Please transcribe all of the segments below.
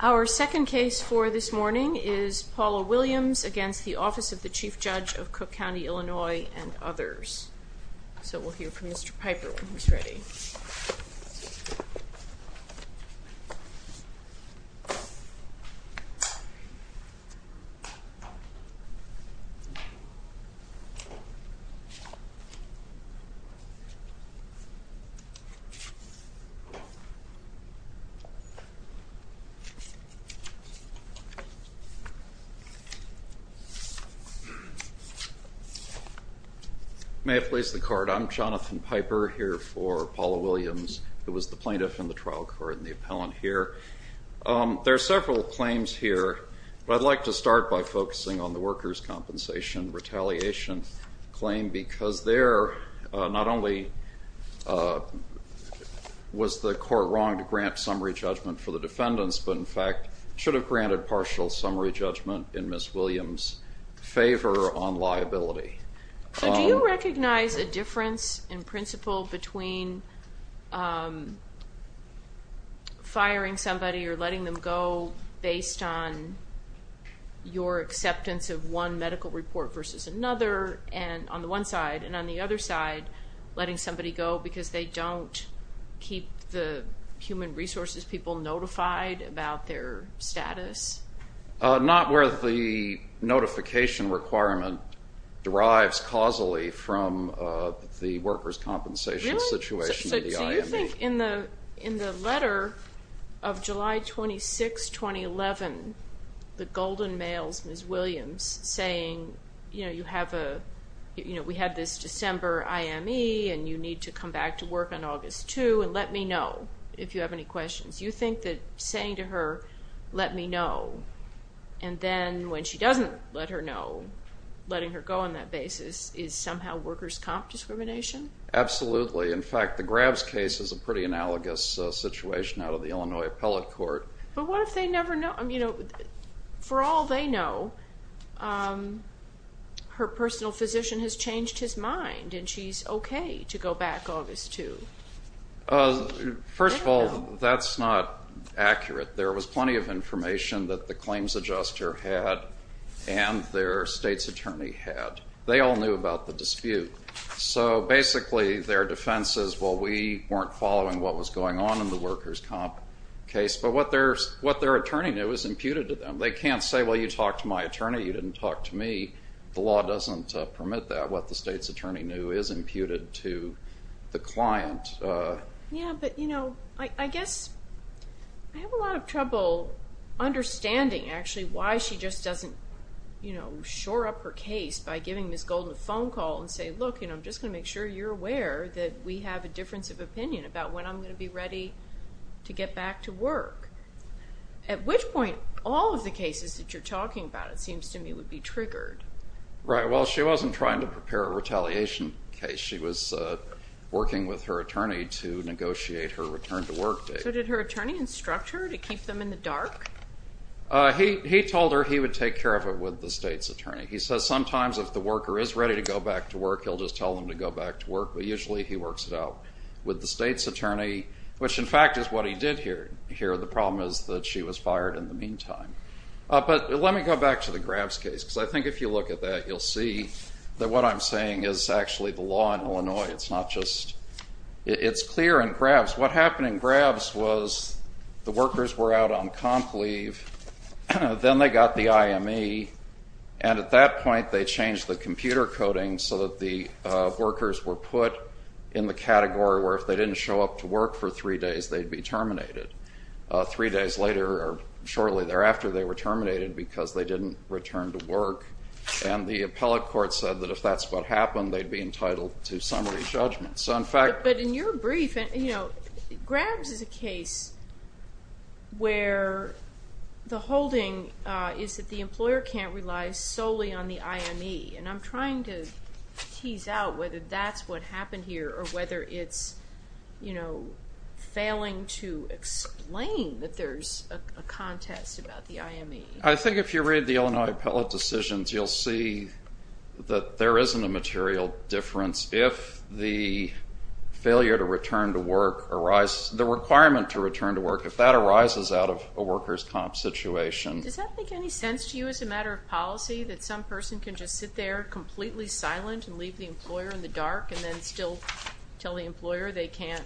Our second case for this morning is Paula Williams v. Office of the Chief Judge of Cook County, Illinois and others. So we'll hear from Mr. Piper when he's ready. May it please the Court, I'm Jonathan Piper, here for Paula Williams, who was the plaintiff in the trial court and the appellant here. There are several claims here, but I'd like to start by focusing on the workers' compensation retaliation claim, because there not only was the court wrong to grant summary judgment for the defendants, but in fact should have granted partial summary judgment in Ms. Williams' favor on liability. So do you recognize a difference in principle between firing somebody or letting them go based on your acceptance of one medical report versus another on the one side, and on the other side letting somebody go because they don't keep the human resources people notified about their status? Not where the notification requirement derives causally from the workers' compensation situation. So you think in the letter of July 26, 2011, the golden males, Ms. Williams, saying, you know, we had this December IME and you need to come back to work on August 2 and let me know if you have any questions. You think that saying to her, let me know, and then when she doesn't let her know, letting her go on that basis is somehow workers' comp discrimination? Absolutely. In fact, the Grabs case is a pretty analogous situation out of the Illinois appellate court. But what if they never know? I mean, for all they know, her personal physician has changed his mind and she's okay to go back August 2. First of all, that's not accurate. There was plenty of information that the claims adjuster had and their state's attorney had. They all knew about the dispute. So basically their defense is, well, we weren't following what was going on in the workers' comp case. But what their attorney knew is imputed to them. They can't say, well, you talked to my attorney, you didn't talk to me. The law doesn't permit that. What the state's attorney knew is imputed to the client. Yeah, but, you know, I guess I have a lot of trouble understanding, actually, why she just doesn't, you know, shore up her case by giving Ms. Golden a phone call and say, look, you know, I'm just going to make sure you're aware that we have a difference of opinion about when I'm going to be ready to get back to work. At which point all of the cases that you're talking about, it seems to me, would be triggered. Right. Well, she wasn't trying to prepare a retaliation case. She was working with her attorney to negotiate her return to work date. So did her attorney instruct her to keep them in the dark? He told her he would take care of it with the state's attorney. He says sometimes if the worker is ready to go back to work, he'll just tell them to go back to work, but usually he works it out with the state's attorney, which, in fact, is what he did here. The problem is that she was fired in the meantime. But let me go back to the Grabs case, because I think if you look at that, you'll see that what I'm saying is actually the law in Illinois. It's not just, it's clear in Grabs. What happened in Grabs was the workers were out on comp leave, then they got the IME, and at that point they changed the computer coding so that the workers were put in the category where if they didn't show up to work for three days, they'd be terminated. Three days later, or shortly thereafter, they were terminated because they didn't return to work. And the appellate court said that if that's what happened, they'd be entitled to summary judgment. But in your brief, Grabs is a case where the holding is that the employer can't rely solely on the IME, and I'm trying to tease out whether that's what happened here or whether it's failing to explain that there's a contest about the IME. I think if you read the Illinois appellate decisions, you'll see that there isn't a material difference. If the failure to return to work arises, the requirement to return to work, if that arises out of a workers' comp situation. Does that make any sense to you as a matter of policy, that some person can just sit there completely silent and leave the employer in the dark and then still tell the employer they can't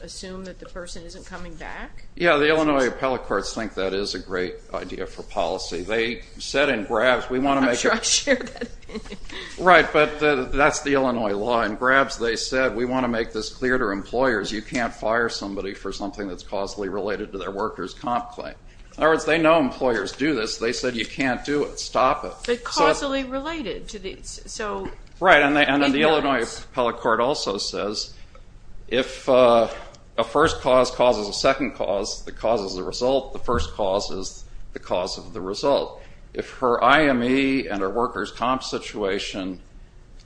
assume that the person isn't coming back? Yeah, the Illinois appellate courts think that is a great idea for policy. They said in Grabs, we want to make it. I'm sure I shared that opinion. Right, but that's the Illinois law. In Grabs, they said, we want to make this clear to employers. You can't fire somebody for something that's causally related to their workers' comp claim. In other words, they know employers do this. They said you can't do it. Stop it. But causally related. Right, and the Illinois appellate court also says if a first cause causes a second cause that causes a result, the first cause is the cause of the result. If her IME and her workers' comp situation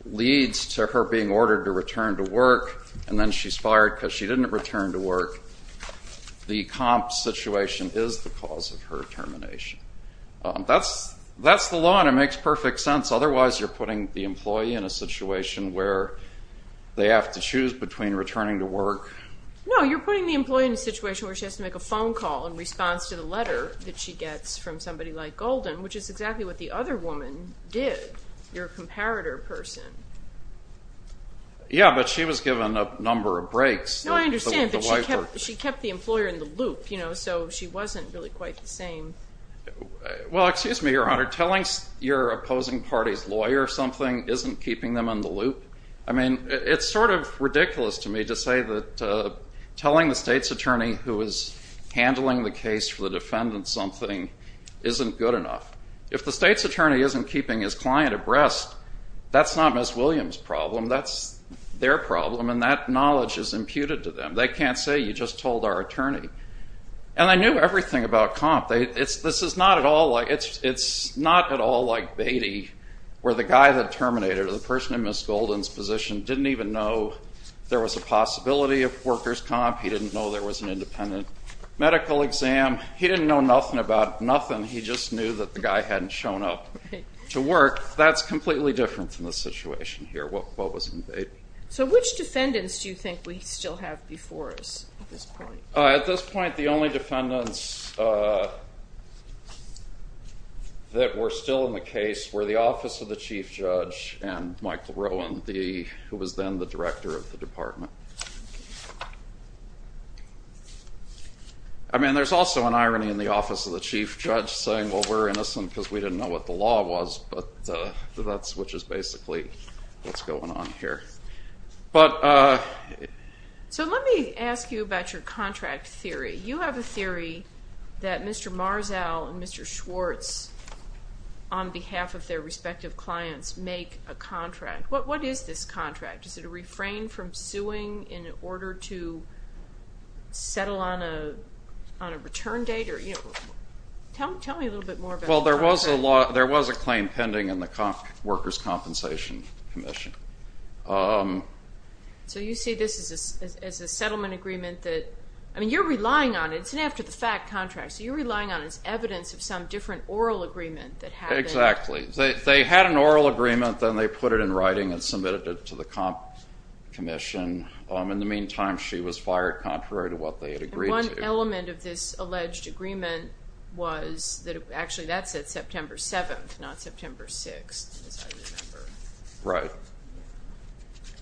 leads to her being ordered to return to work and then she's fired because she didn't return to work, the comp situation is the cause of her termination. That's the law, and it makes perfect sense. Otherwise, you're putting the employee in a situation where they have to choose between returning to work. No, you're putting the employee in a situation where she has to make a phone call in response to the letter that she gets from somebody like Golden, which is exactly what the other woman did, your comparator person. Yeah, but she was given a number of breaks. No, I understand, but she kept the employer in the loop, you know, so she wasn't really quite the same. Well, excuse me, Your Honor. Telling your opposing party's lawyer something isn't keeping them in the loop. I mean, it's sort of ridiculous to me to say that telling the state's attorney who is handling the case for the defendant something isn't good enough. If the state's attorney isn't keeping his client abreast, that's not Ms. Williams' problem. That's their problem, and that knowledge is imputed to them. They can't say you just told our attorney. And I knew everything about comp. This is not at all like Beatty where the guy that terminated her, the person in Ms. Golden's position, didn't even know there was a possibility of workers' comp. He didn't know there was an independent medical exam. He didn't know nothing about nothing. He just knew that the guy hadn't shown up to work. That's completely different from the situation here, what was in Beatty. So which defendants do you think we still have before us at this point? At this point, the only defendants that were still in the case were the office of the chief judge and Michael Rowan, who was then the director of the department. I mean, there's also an irony in the office of the chief judge saying, well, we're innocent because we didn't know what the law was, which is basically what's going on here. So let me ask you about your contract theory. You have a theory that Mr. Marzall and Mr. Schwartz, on behalf of their respective clients, make a contract. What is this contract? Is it a refrain from suing in order to settle on a return date? Tell me a little bit more about the contract. There was a claim pending in the Workers' Compensation Commission. So you see this as a settlement agreement that, I mean, you're relying on it. It's an after-the-fact contract, so you're relying on it as evidence of some different oral agreement that happened. Exactly. They had an oral agreement, then they put it in writing and submitted it to the commission. In the meantime, she was fired contrary to what they had agreed to. One element of this alleged agreement was that actually that's at September 7th, not September 6th, as I remember.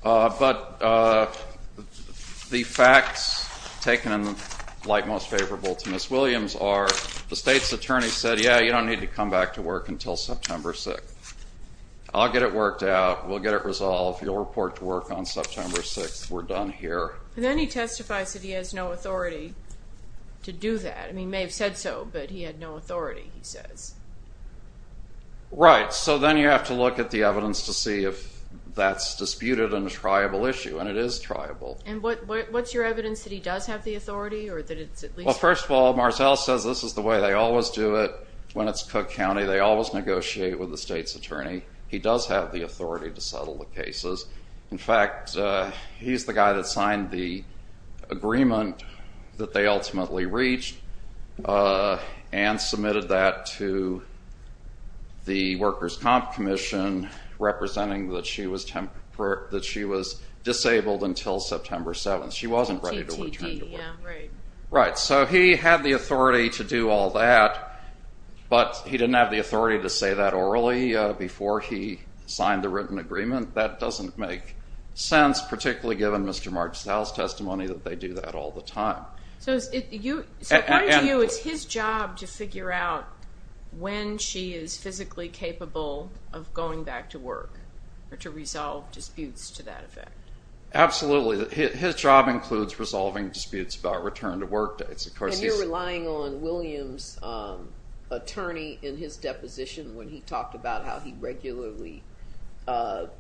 Right. But the facts taken in light most favorable to Ms. Williams are the state's attorney said, yeah, you don't need to come back to work until September 6th. I'll get it worked out. We'll get it resolved. You'll report to work on September 6th. We're done here. And then he testifies that he has no authority to do that. I mean, he may have said so, but he had no authority, he says. Right. So then you have to look at the evidence to see if that's disputed and a triable issue, and it is triable. And what's your evidence that he does have the authority or that it's at least? Well, first of all, Marcel says this is the way they always do it when it's Cook County. They always negotiate with the state's attorney. He does have the authority to settle the cases. In fact, he's the guy that signed the agreement that they ultimately reached and submitted that to the Workers' Comp Commission representing that she was disabled until September 7th. She wasn't ready to return to work. Right. So he had the authority to do all that, but he didn't have the authority to say that orally before he signed the written agreement. That doesn't make sense, particularly given Mr. Marcel's testimony that they do that all the time. So according to you, it's his job to figure out when she is physically capable of going back to work or to resolve disputes to that effect. Absolutely. His job includes resolving disputes about return to work dates. And you're relying on William's attorney in his deposition when he talked about how he regularly worked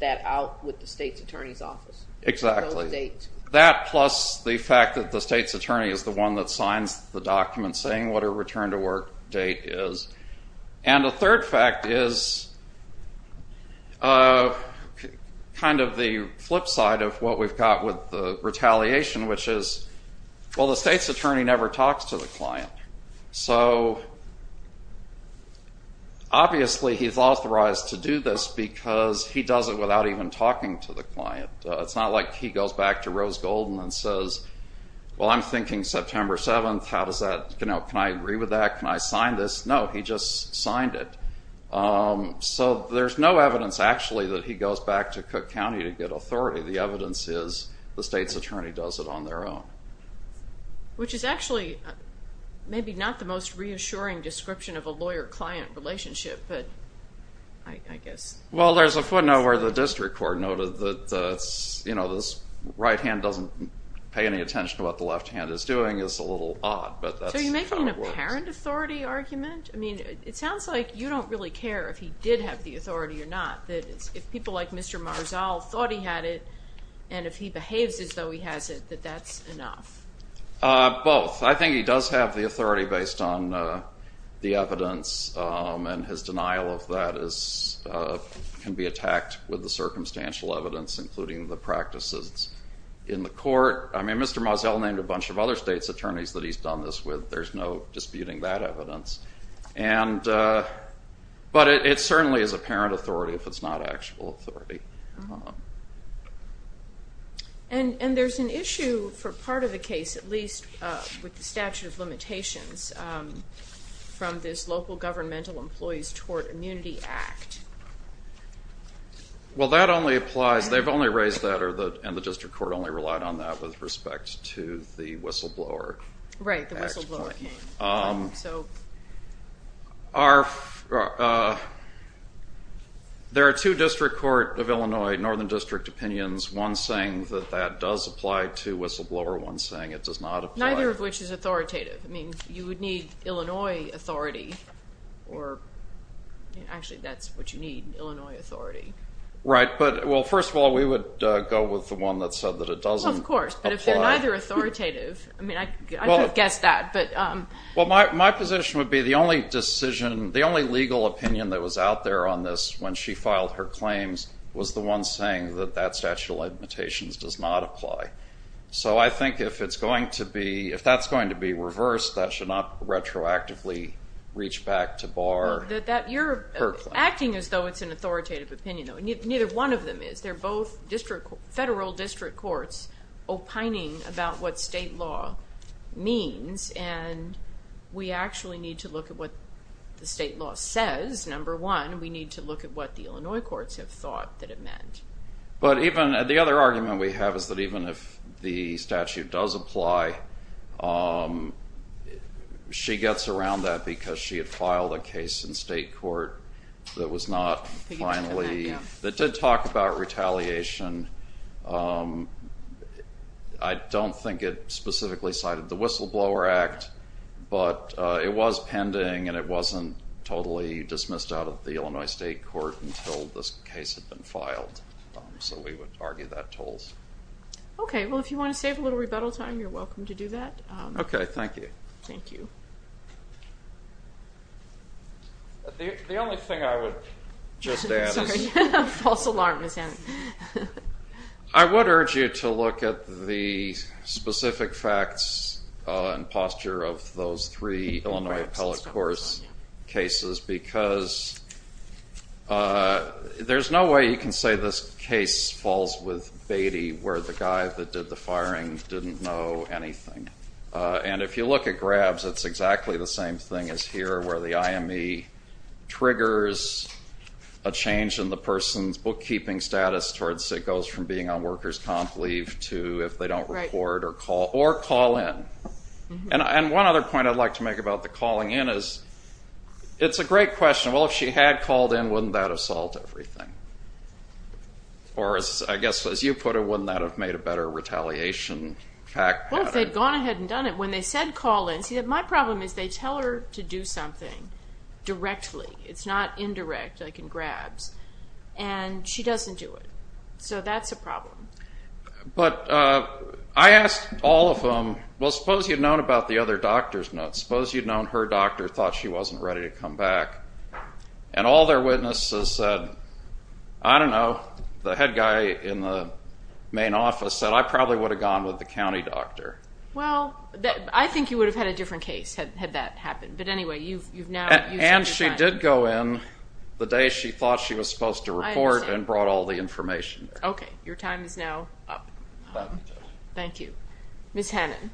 that out with the state's attorney's office. Exactly. That plus the fact that the state's attorney is the one that signs the document saying what her return to work date is. And a third fact is kind of the flip side of what we've got with the retaliation, which is, well, the state's attorney never talks to the client. So obviously he's authorized to do this because he does it without even talking to the client. It's not like he goes back to Rose Golden and says, well, I'm thinking September 7th. How does that, you know, can I agree with that? Can I sign this? No, he just signed it. So there's no evidence actually that he goes back to Cook County to get authority. The evidence is the state's attorney does it on their own. Which is actually maybe not the most reassuring description of a lawyer-client relationship, but I guess. Well, there's a footnote where the district court noted that, you know, this right hand doesn't pay any attention to what the left hand is doing is a little odd. So are you making an apparent authority argument? I mean, it sounds like you don't really care if he did have the authority or not. If people like Mr. Marzall thought he had it, and if he behaves as though he has it, that that's enough. Both. I think he does have the authority based on the evidence, and his denial of that can be attacked with the circumstantial evidence, including the practices in the court. I mean, Mr. Marzall named a bunch of other states' attorneys that he's done this with. There's no disputing that evidence. But it certainly is apparent authority if it's not actual authority. And there's an issue for part of the case, at least with the statute of limitations, from this Local Governmental Employees Tort Immunity Act. Well, that only applies. They've only raised that, and the district court only relied on that with respect to the whistleblower. Right, the whistleblower. There are two district court of Illinois, northern district opinions, one saying that that does apply to whistleblower, one saying it does not apply. Neither of which is authoritative. I mean, you would need Illinois authority, or actually that's what you need, Illinois authority. Right. Well, first of all, we would go with the one that said that it doesn't apply. Well, of course, but if they're neither authoritative, I mean, I could guess that. Well, my position would be the only decision, the only legal opinion that was out there on this when she filed her claims was the one saying that that statute of limitations does not apply. So I think if that's going to be reversed, that should not retroactively reach back to bar her claim. You're acting as though it's an authoritative opinion, though. Neither one of them is. They're both federal district courts opining about what state law means, and we actually need to look at what the state law says, number one. We need to look at what the Illinois courts have thought that it meant. But the other argument we have is that even if the statute does apply, she gets around that because she had filed a case in state court that did talk about retaliation. I don't think it specifically cited the Whistleblower Act, but it was pending, and it wasn't totally dismissed out of the Illinois state court until this case had been filed. So we would argue that tolls. Okay. Well, if you want to save a little rebuttal time, you're welcome to do that. Okay. Thank you. Thank you. The only thing I would just add is- Sorry. False alarm is in. I would urge you to look at the specific facts and posture of those three Illinois appellate court cases because there's no way you can say this case falls with Beatty, where the guy that did the firing didn't know anything. And if you look at Grabs, it's exactly the same thing as here, where the IME triggers a change in the person's bookkeeping status towards it goes from being on workers' comp leave to if they don't report or call in. And one other point I'd like to make about the calling in is it's a great question. Well, if she had called in, wouldn't that have solved everything? Or I guess as you put it, wouldn't that have made a better retaliation? Well, if they'd gone ahead and done it. When they said call in, see, my problem is they tell her to do something directly. It's not indirect like in Grabs. And she doesn't do it. So that's a problem. But I asked all of them, well, suppose you'd known about the other doctor's notes. Suppose you'd known her doctor thought she wasn't ready to come back. And all their witnesses said, I don't know, the head guy in the main office said, Well, I probably would have gone with the county doctor. Well, I think you would have had a different case had that happened. But anyway, you've now used up your time. And she did go in the day she thought she was supposed to report and brought all the information. Okay. Your time is now up. Ms. Hannon.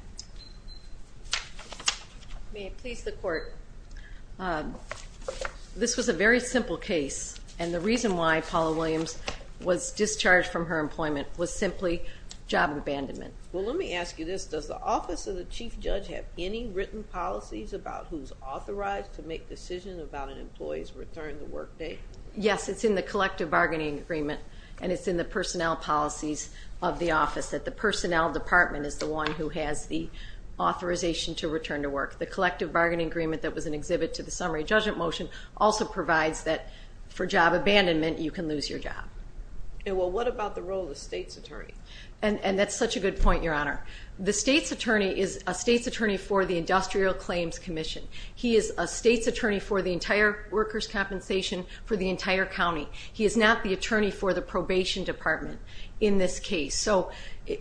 May it please the Court. This was a very simple case. And the reason why Paula Williams was discharged from her employment was simply job abandonment. Well, let me ask you this. Does the office of the chief judge have any written policies about who's authorized to make decisions about an employee's return to work day? Yes, it's in the collective bargaining agreement. And it's in the personnel policies of the office, that the personnel department is the one who has the authorization to return to work. The collective bargaining agreement that was an exhibit to the summary judgment motion also provides that for job abandonment, you can lose your job. Well, what about the role of the state's attorney? And that's such a good point, Your Honor. The state's attorney is a state's attorney for the Industrial Claims Commission. He is a state's attorney for the entire workers' compensation for the entire county. He is not the attorney for the probation department in this case. So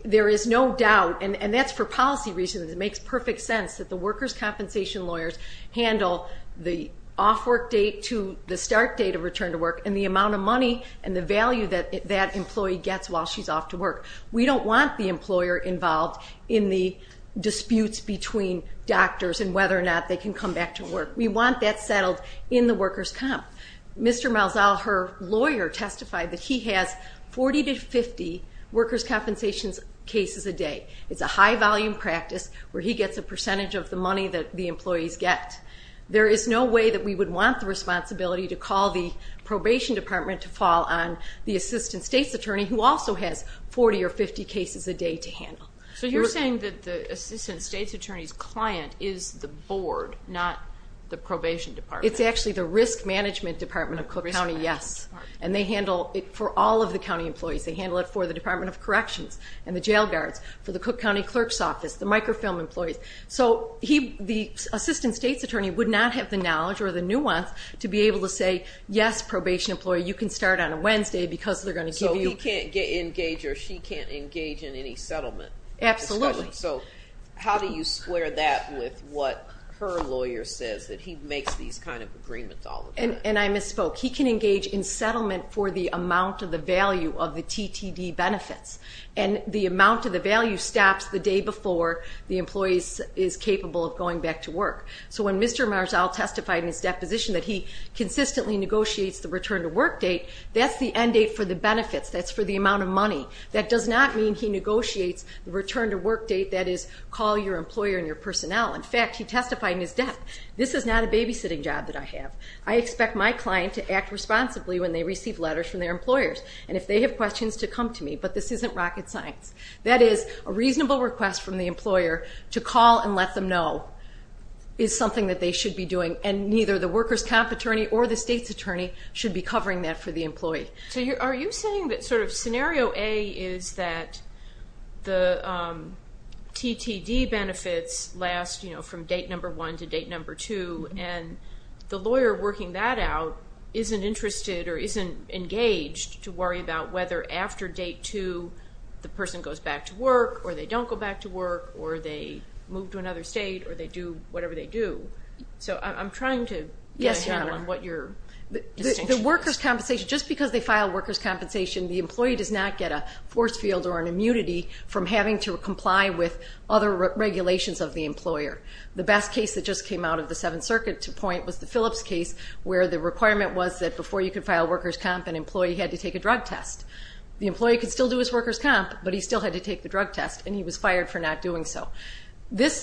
there is no doubt, and that's for policy reasons. It makes perfect sense that the workers' compensation lawyers handle the off-work date to the start date of return to work and the amount of money and the value that that employee gets while she's off to work. We don't want the employer involved in the disputes between doctors and whether or not they can come back to work. We want that settled in the workers' comp. Mr. Malzahl, her lawyer, testified that he has 40 to 50 workers' compensation cases a day. It's a high-volume practice where he gets a percentage of the money that the employees get. There is no way that we would want the responsibility to call the probation department to fall on the assistant state's attorney, who also has 40 or 50 cases a day to handle. So you're saying that the assistant state's attorney's client is the board, not the probation department? It's actually the risk management department of Cook County, yes. And they handle it for all of the county employees. They handle it for the Department of Corrections and the jail guards, for the Cook County clerk's office, the microfilm employees. So the assistant state's attorney would not have the knowledge or the nuance to be able to say, yes, probation employee, you can start on a Wednesday because they're going to give you. So he can't engage or she can't engage in any settlement? Absolutely. So how do you square that with what her lawyer says, that he makes these kind of agreements all the time? And I misspoke. He can engage in settlement for the amount of the value of the TTD benefits, and the amount of the value stops the day before the employee is capable of going back to work. So when Mr. Marzal testified in his deposition that he consistently negotiates the return to work date, that's the end date for the benefits. That's for the amount of money. That does not mean he negotiates the return to work date, that is, call your employer and your personnel. In fact, he testified in his death, this is not a babysitting job that I have. I expect my client to act responsibly when they receive letters from their employers, and if they have questions, to come to me. But this isn't rocket science. That is, a reasonable request from the employer to call and let them know is something that they should be doing, and neither the workers' comp attorney or the state's attorney should be covering that for the employee. So are you saying that sort of scenario A is that the TTD benefits last from date number 1 to date number 2, and the lawyer working that out isn't interested or isn't engaged to worry about whether after date 2, the person goes back to work, or they don't go back to work, or they move to another state, or they do whatever they do? So I'm trying to get a handle on what your distinction is. The workers' compensation, just because they file workers' compensation, the employee does not get a force field or an immunity from having to comply with other regulations of the employer. The best case that just came out of the Seventh Circuit to point was the Phillips case, where the requirement was that before you could file workers' comp, an employee had to take a drug test. The employee could still do his workers' comp, but he still had to take the drug test, and he was fired for not doing so.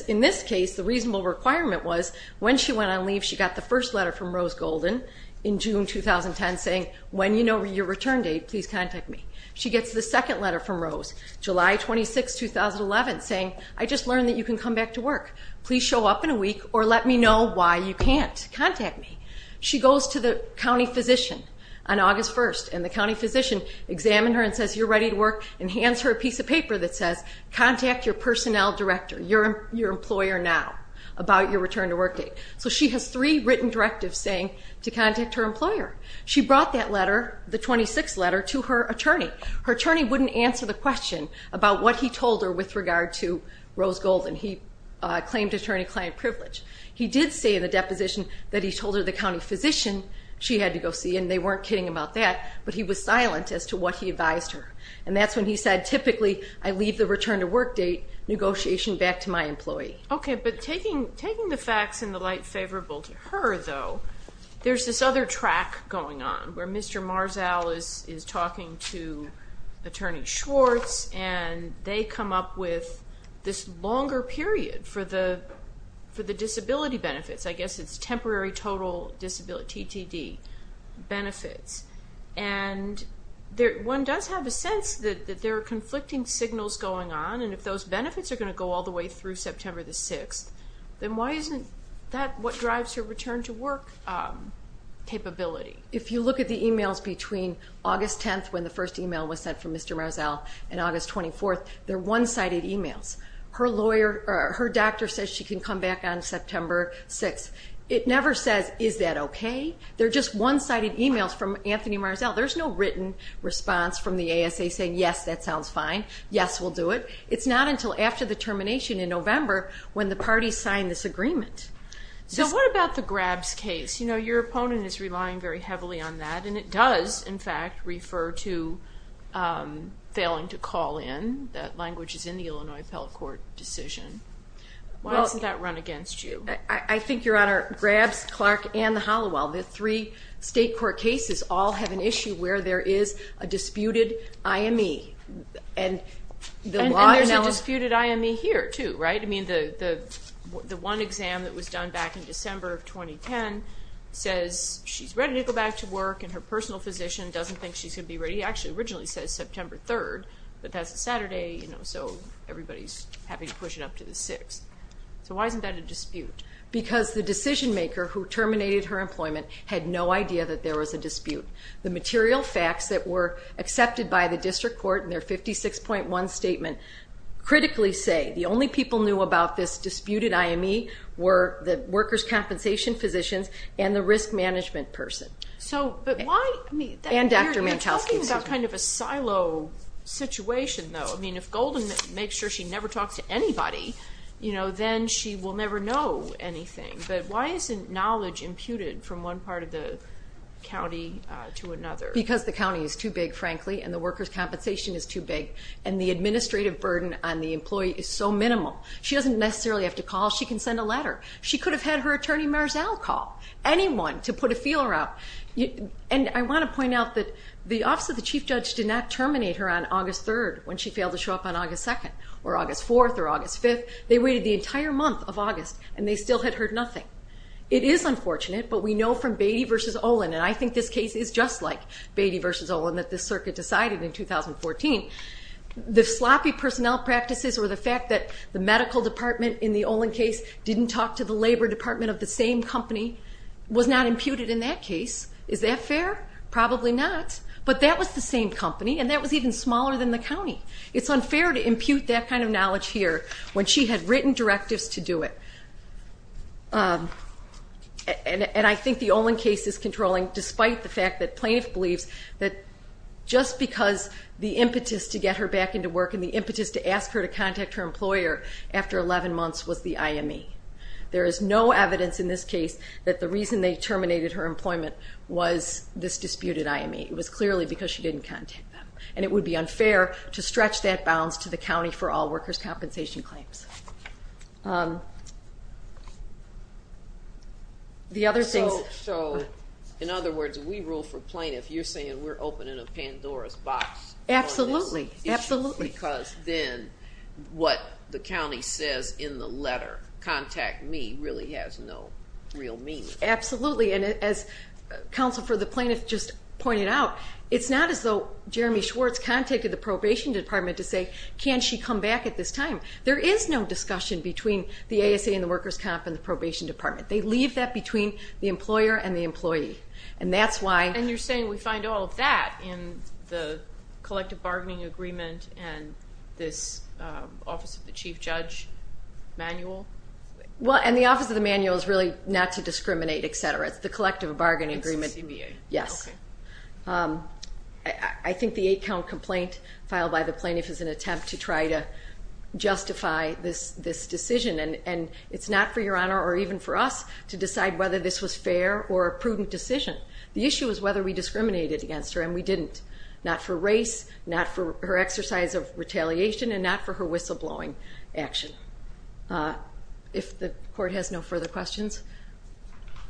In this case, the reasonable requirement was when she went on leave, she got the first letter from Rose Golden in June 2010 saying, when you know your return date, please contact me. She gets the second letter from Rose, July 26, 2011, saying, I just learned that you can come back to work. Please show up in a week or let me know why you can't. Contact me. She goes to the county physician on August 1, and the county physician examined her and says, you're ready to work, and hands her a piece of paper that says, contact your personnel director, your employer now, about your return to work date. So she has three written directives saying to contact her employer. She brought that letter, the 26th letter, to her attorney. But her attorney wouldn't answer the question about what he told her with regard to Rose Golden. He claimed attorney-client privilege. He did say in the deposition that he told her the county physician she had to go see, and they weren't kidding about that, but he was silent as to what he advised her. And that's when he said, typically, I leave the return to work date negotiation back to my employee. Okay, but taking the facts in the light favorable to her, though, there's this other track going on where Mr. Marzal is talking to Attorney Schwartz, and they come up with this longer period for the disability benefits. I guess it's temporary total TTD benefits. And one does have a sense that there are conflicting signals going on, and if those benefits are going to go all the way through September the 6th, then why isn't that what drives her return to work capability? If you look at the e-mails between August 10th, when the first e-mail was sent from Mr. Marzal, and August 24th, they're one-sided e-mails. Her doctor says she can come back on September 6th. It never says, is that okay? They're just one-sided e-mails from Anthony Marzal. There's no written response from the ASA saying, yes, that sounds fine, yes, we'll do it. It's not until after the termination in November when the parties sign this agreement. So what about the Grabs case? You know, your opponent is relying very heavily on that, and it does, in fact, refer to failing to call in. That language is in the Illinois Appellate Court decision. Why doesn't that run against you? I think, Your Honor, Grabs, Clark, and the Halliwell, the three state court cases, all have an issue where there is a disputed IME. And there's a disputed IME here, too, right? I mean, the one exam that was done back in December of 2010 says she's ready to go back to work, and her personal physician doesn't think she should be ready. It actually originally says September 3rd, but that's a Saturday, so everybody's having to push it up to the 6th. So why isn't that a dispute? Because the decision-maker who terminated her employment had no idea that there was a dispute. The material facts that were accepted by the district court in their 56.1 statement critically say the only people knew about this disputed IME were the workers' compensation physicians and the risk management person. So, but why? And Dr. Mantelsky. You're talking about kind of a silo situation, though. I mean, if Golden makes sure she never talks to anybody, you know, then she will never know anything. But why isn't knowledge imputed from one part of the county to another? Because the county is too big, frankly, and the workers' compensation is too big, and the administrative burden on the employee is so minimal. She doesn't necessarily have to call. She can send a letter. She could have had her attorney marzal call anyone to put a feeler out. And I want to point out that the Office of the Chief Judge did not terminate her on August 3rd when she failed to show up on August 2nd or August 4th or August 5th. They waited the entire month of August, and they still had heard nothing. It is unfortunate, but we know from Beatty v. Olin, and I think this case is just like Beatty v. Olin that this circuit decided in 2014, the sloppy personnel practices or the fact that the medical department in the Olin case didn't talk to the labor department of the same company was not imputed in that case. Is that fair? Probably not. It's unfair to impute that kind of knowledge here when she had written directives to do it. And I think the Olin case is controlling despite the fact that plaintiff believes that just because the impetus to get her back into work and the impetus to ask her to contact her employer after 11 months was the IME. There is no evidence in this case that the reason they terminated her employment was this disputed IME. It was clearly because she didn't contact them. And it would be unfair to stretch that bounds to the county for all workers' compensation claims. The other things. So in other words, we rule for plaintiff. You're saying we're opening a Pandora's box on this issue. Absolutely. Because then what the county says in the letter, contact me, really has no real meaning. Absolutely. And as Counsel for the Plaintiff just pointed out, it's not as though Jeremy Schwartz contacted the probation department to say, can she come back at this time. There is no discussion between the ASA and the workers' comp and the probation department. They leave that between the employer and the employee. And that's why. And you're saying we find all of that in the collective bargaining agreement and this Office of the Chief Judge manual? Well, and the Office of the Manual is really not to discriminate, et cetera. It's the collective bargaining agreement. Yes. I think the eight-count complaint filed by the plaintiff is an attempt to try to justify this decision. And it's not for Your Honor or even for us to decide whether this was fair or a prudent decision. The issue is whether we discriminated against her, and we didn't. Not for race, not for her exercise of retaliation, and not for her whistleblowing action. If the Court has no further questions,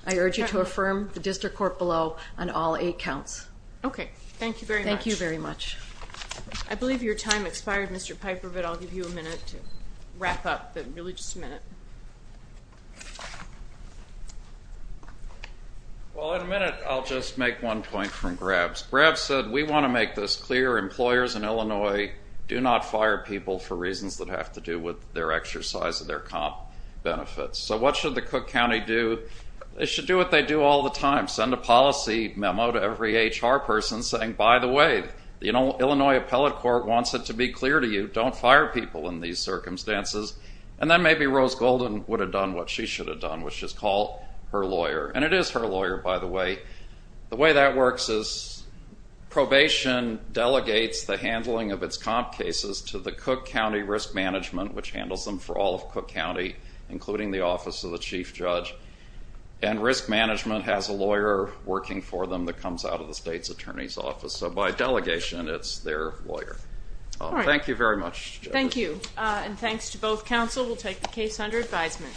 I urge you to affirm the district court below on all eight counts. Okay. Thank you very much. Thank you very much. I believe your time expired, Mr. Piper, but I'll give you a minute to wrap up, but really just a minute. Well, in a minute I'll just make one point from Grab's. Grab said, we want to make this clear. Employers in Illinois do not fire people for reasons that have to do with their exercise of their comp benefits. So what should the Cook County do? They should do what they do all the time, send a policy memo to every HR person saying, by the way, the Illinois Appellate Court wants it to be clear to you, don't fire people in these circumstances. And then maybe Rose Golden would have done what she should have done, which is call her lawyer. And it is her lawyer, by the way. The way that works is probation delegates the handling of its comp cases to the Cook County Risk Management, which handles them for all of Cook County, including the Office of the Chief Judge. And Risk Management has a lawyer working for them that comes out of the state's attorney's office. So by delegation, it's their lawyer. Thank you very much. Thank you. And thanks to both counsel. We'll take the case under advisement.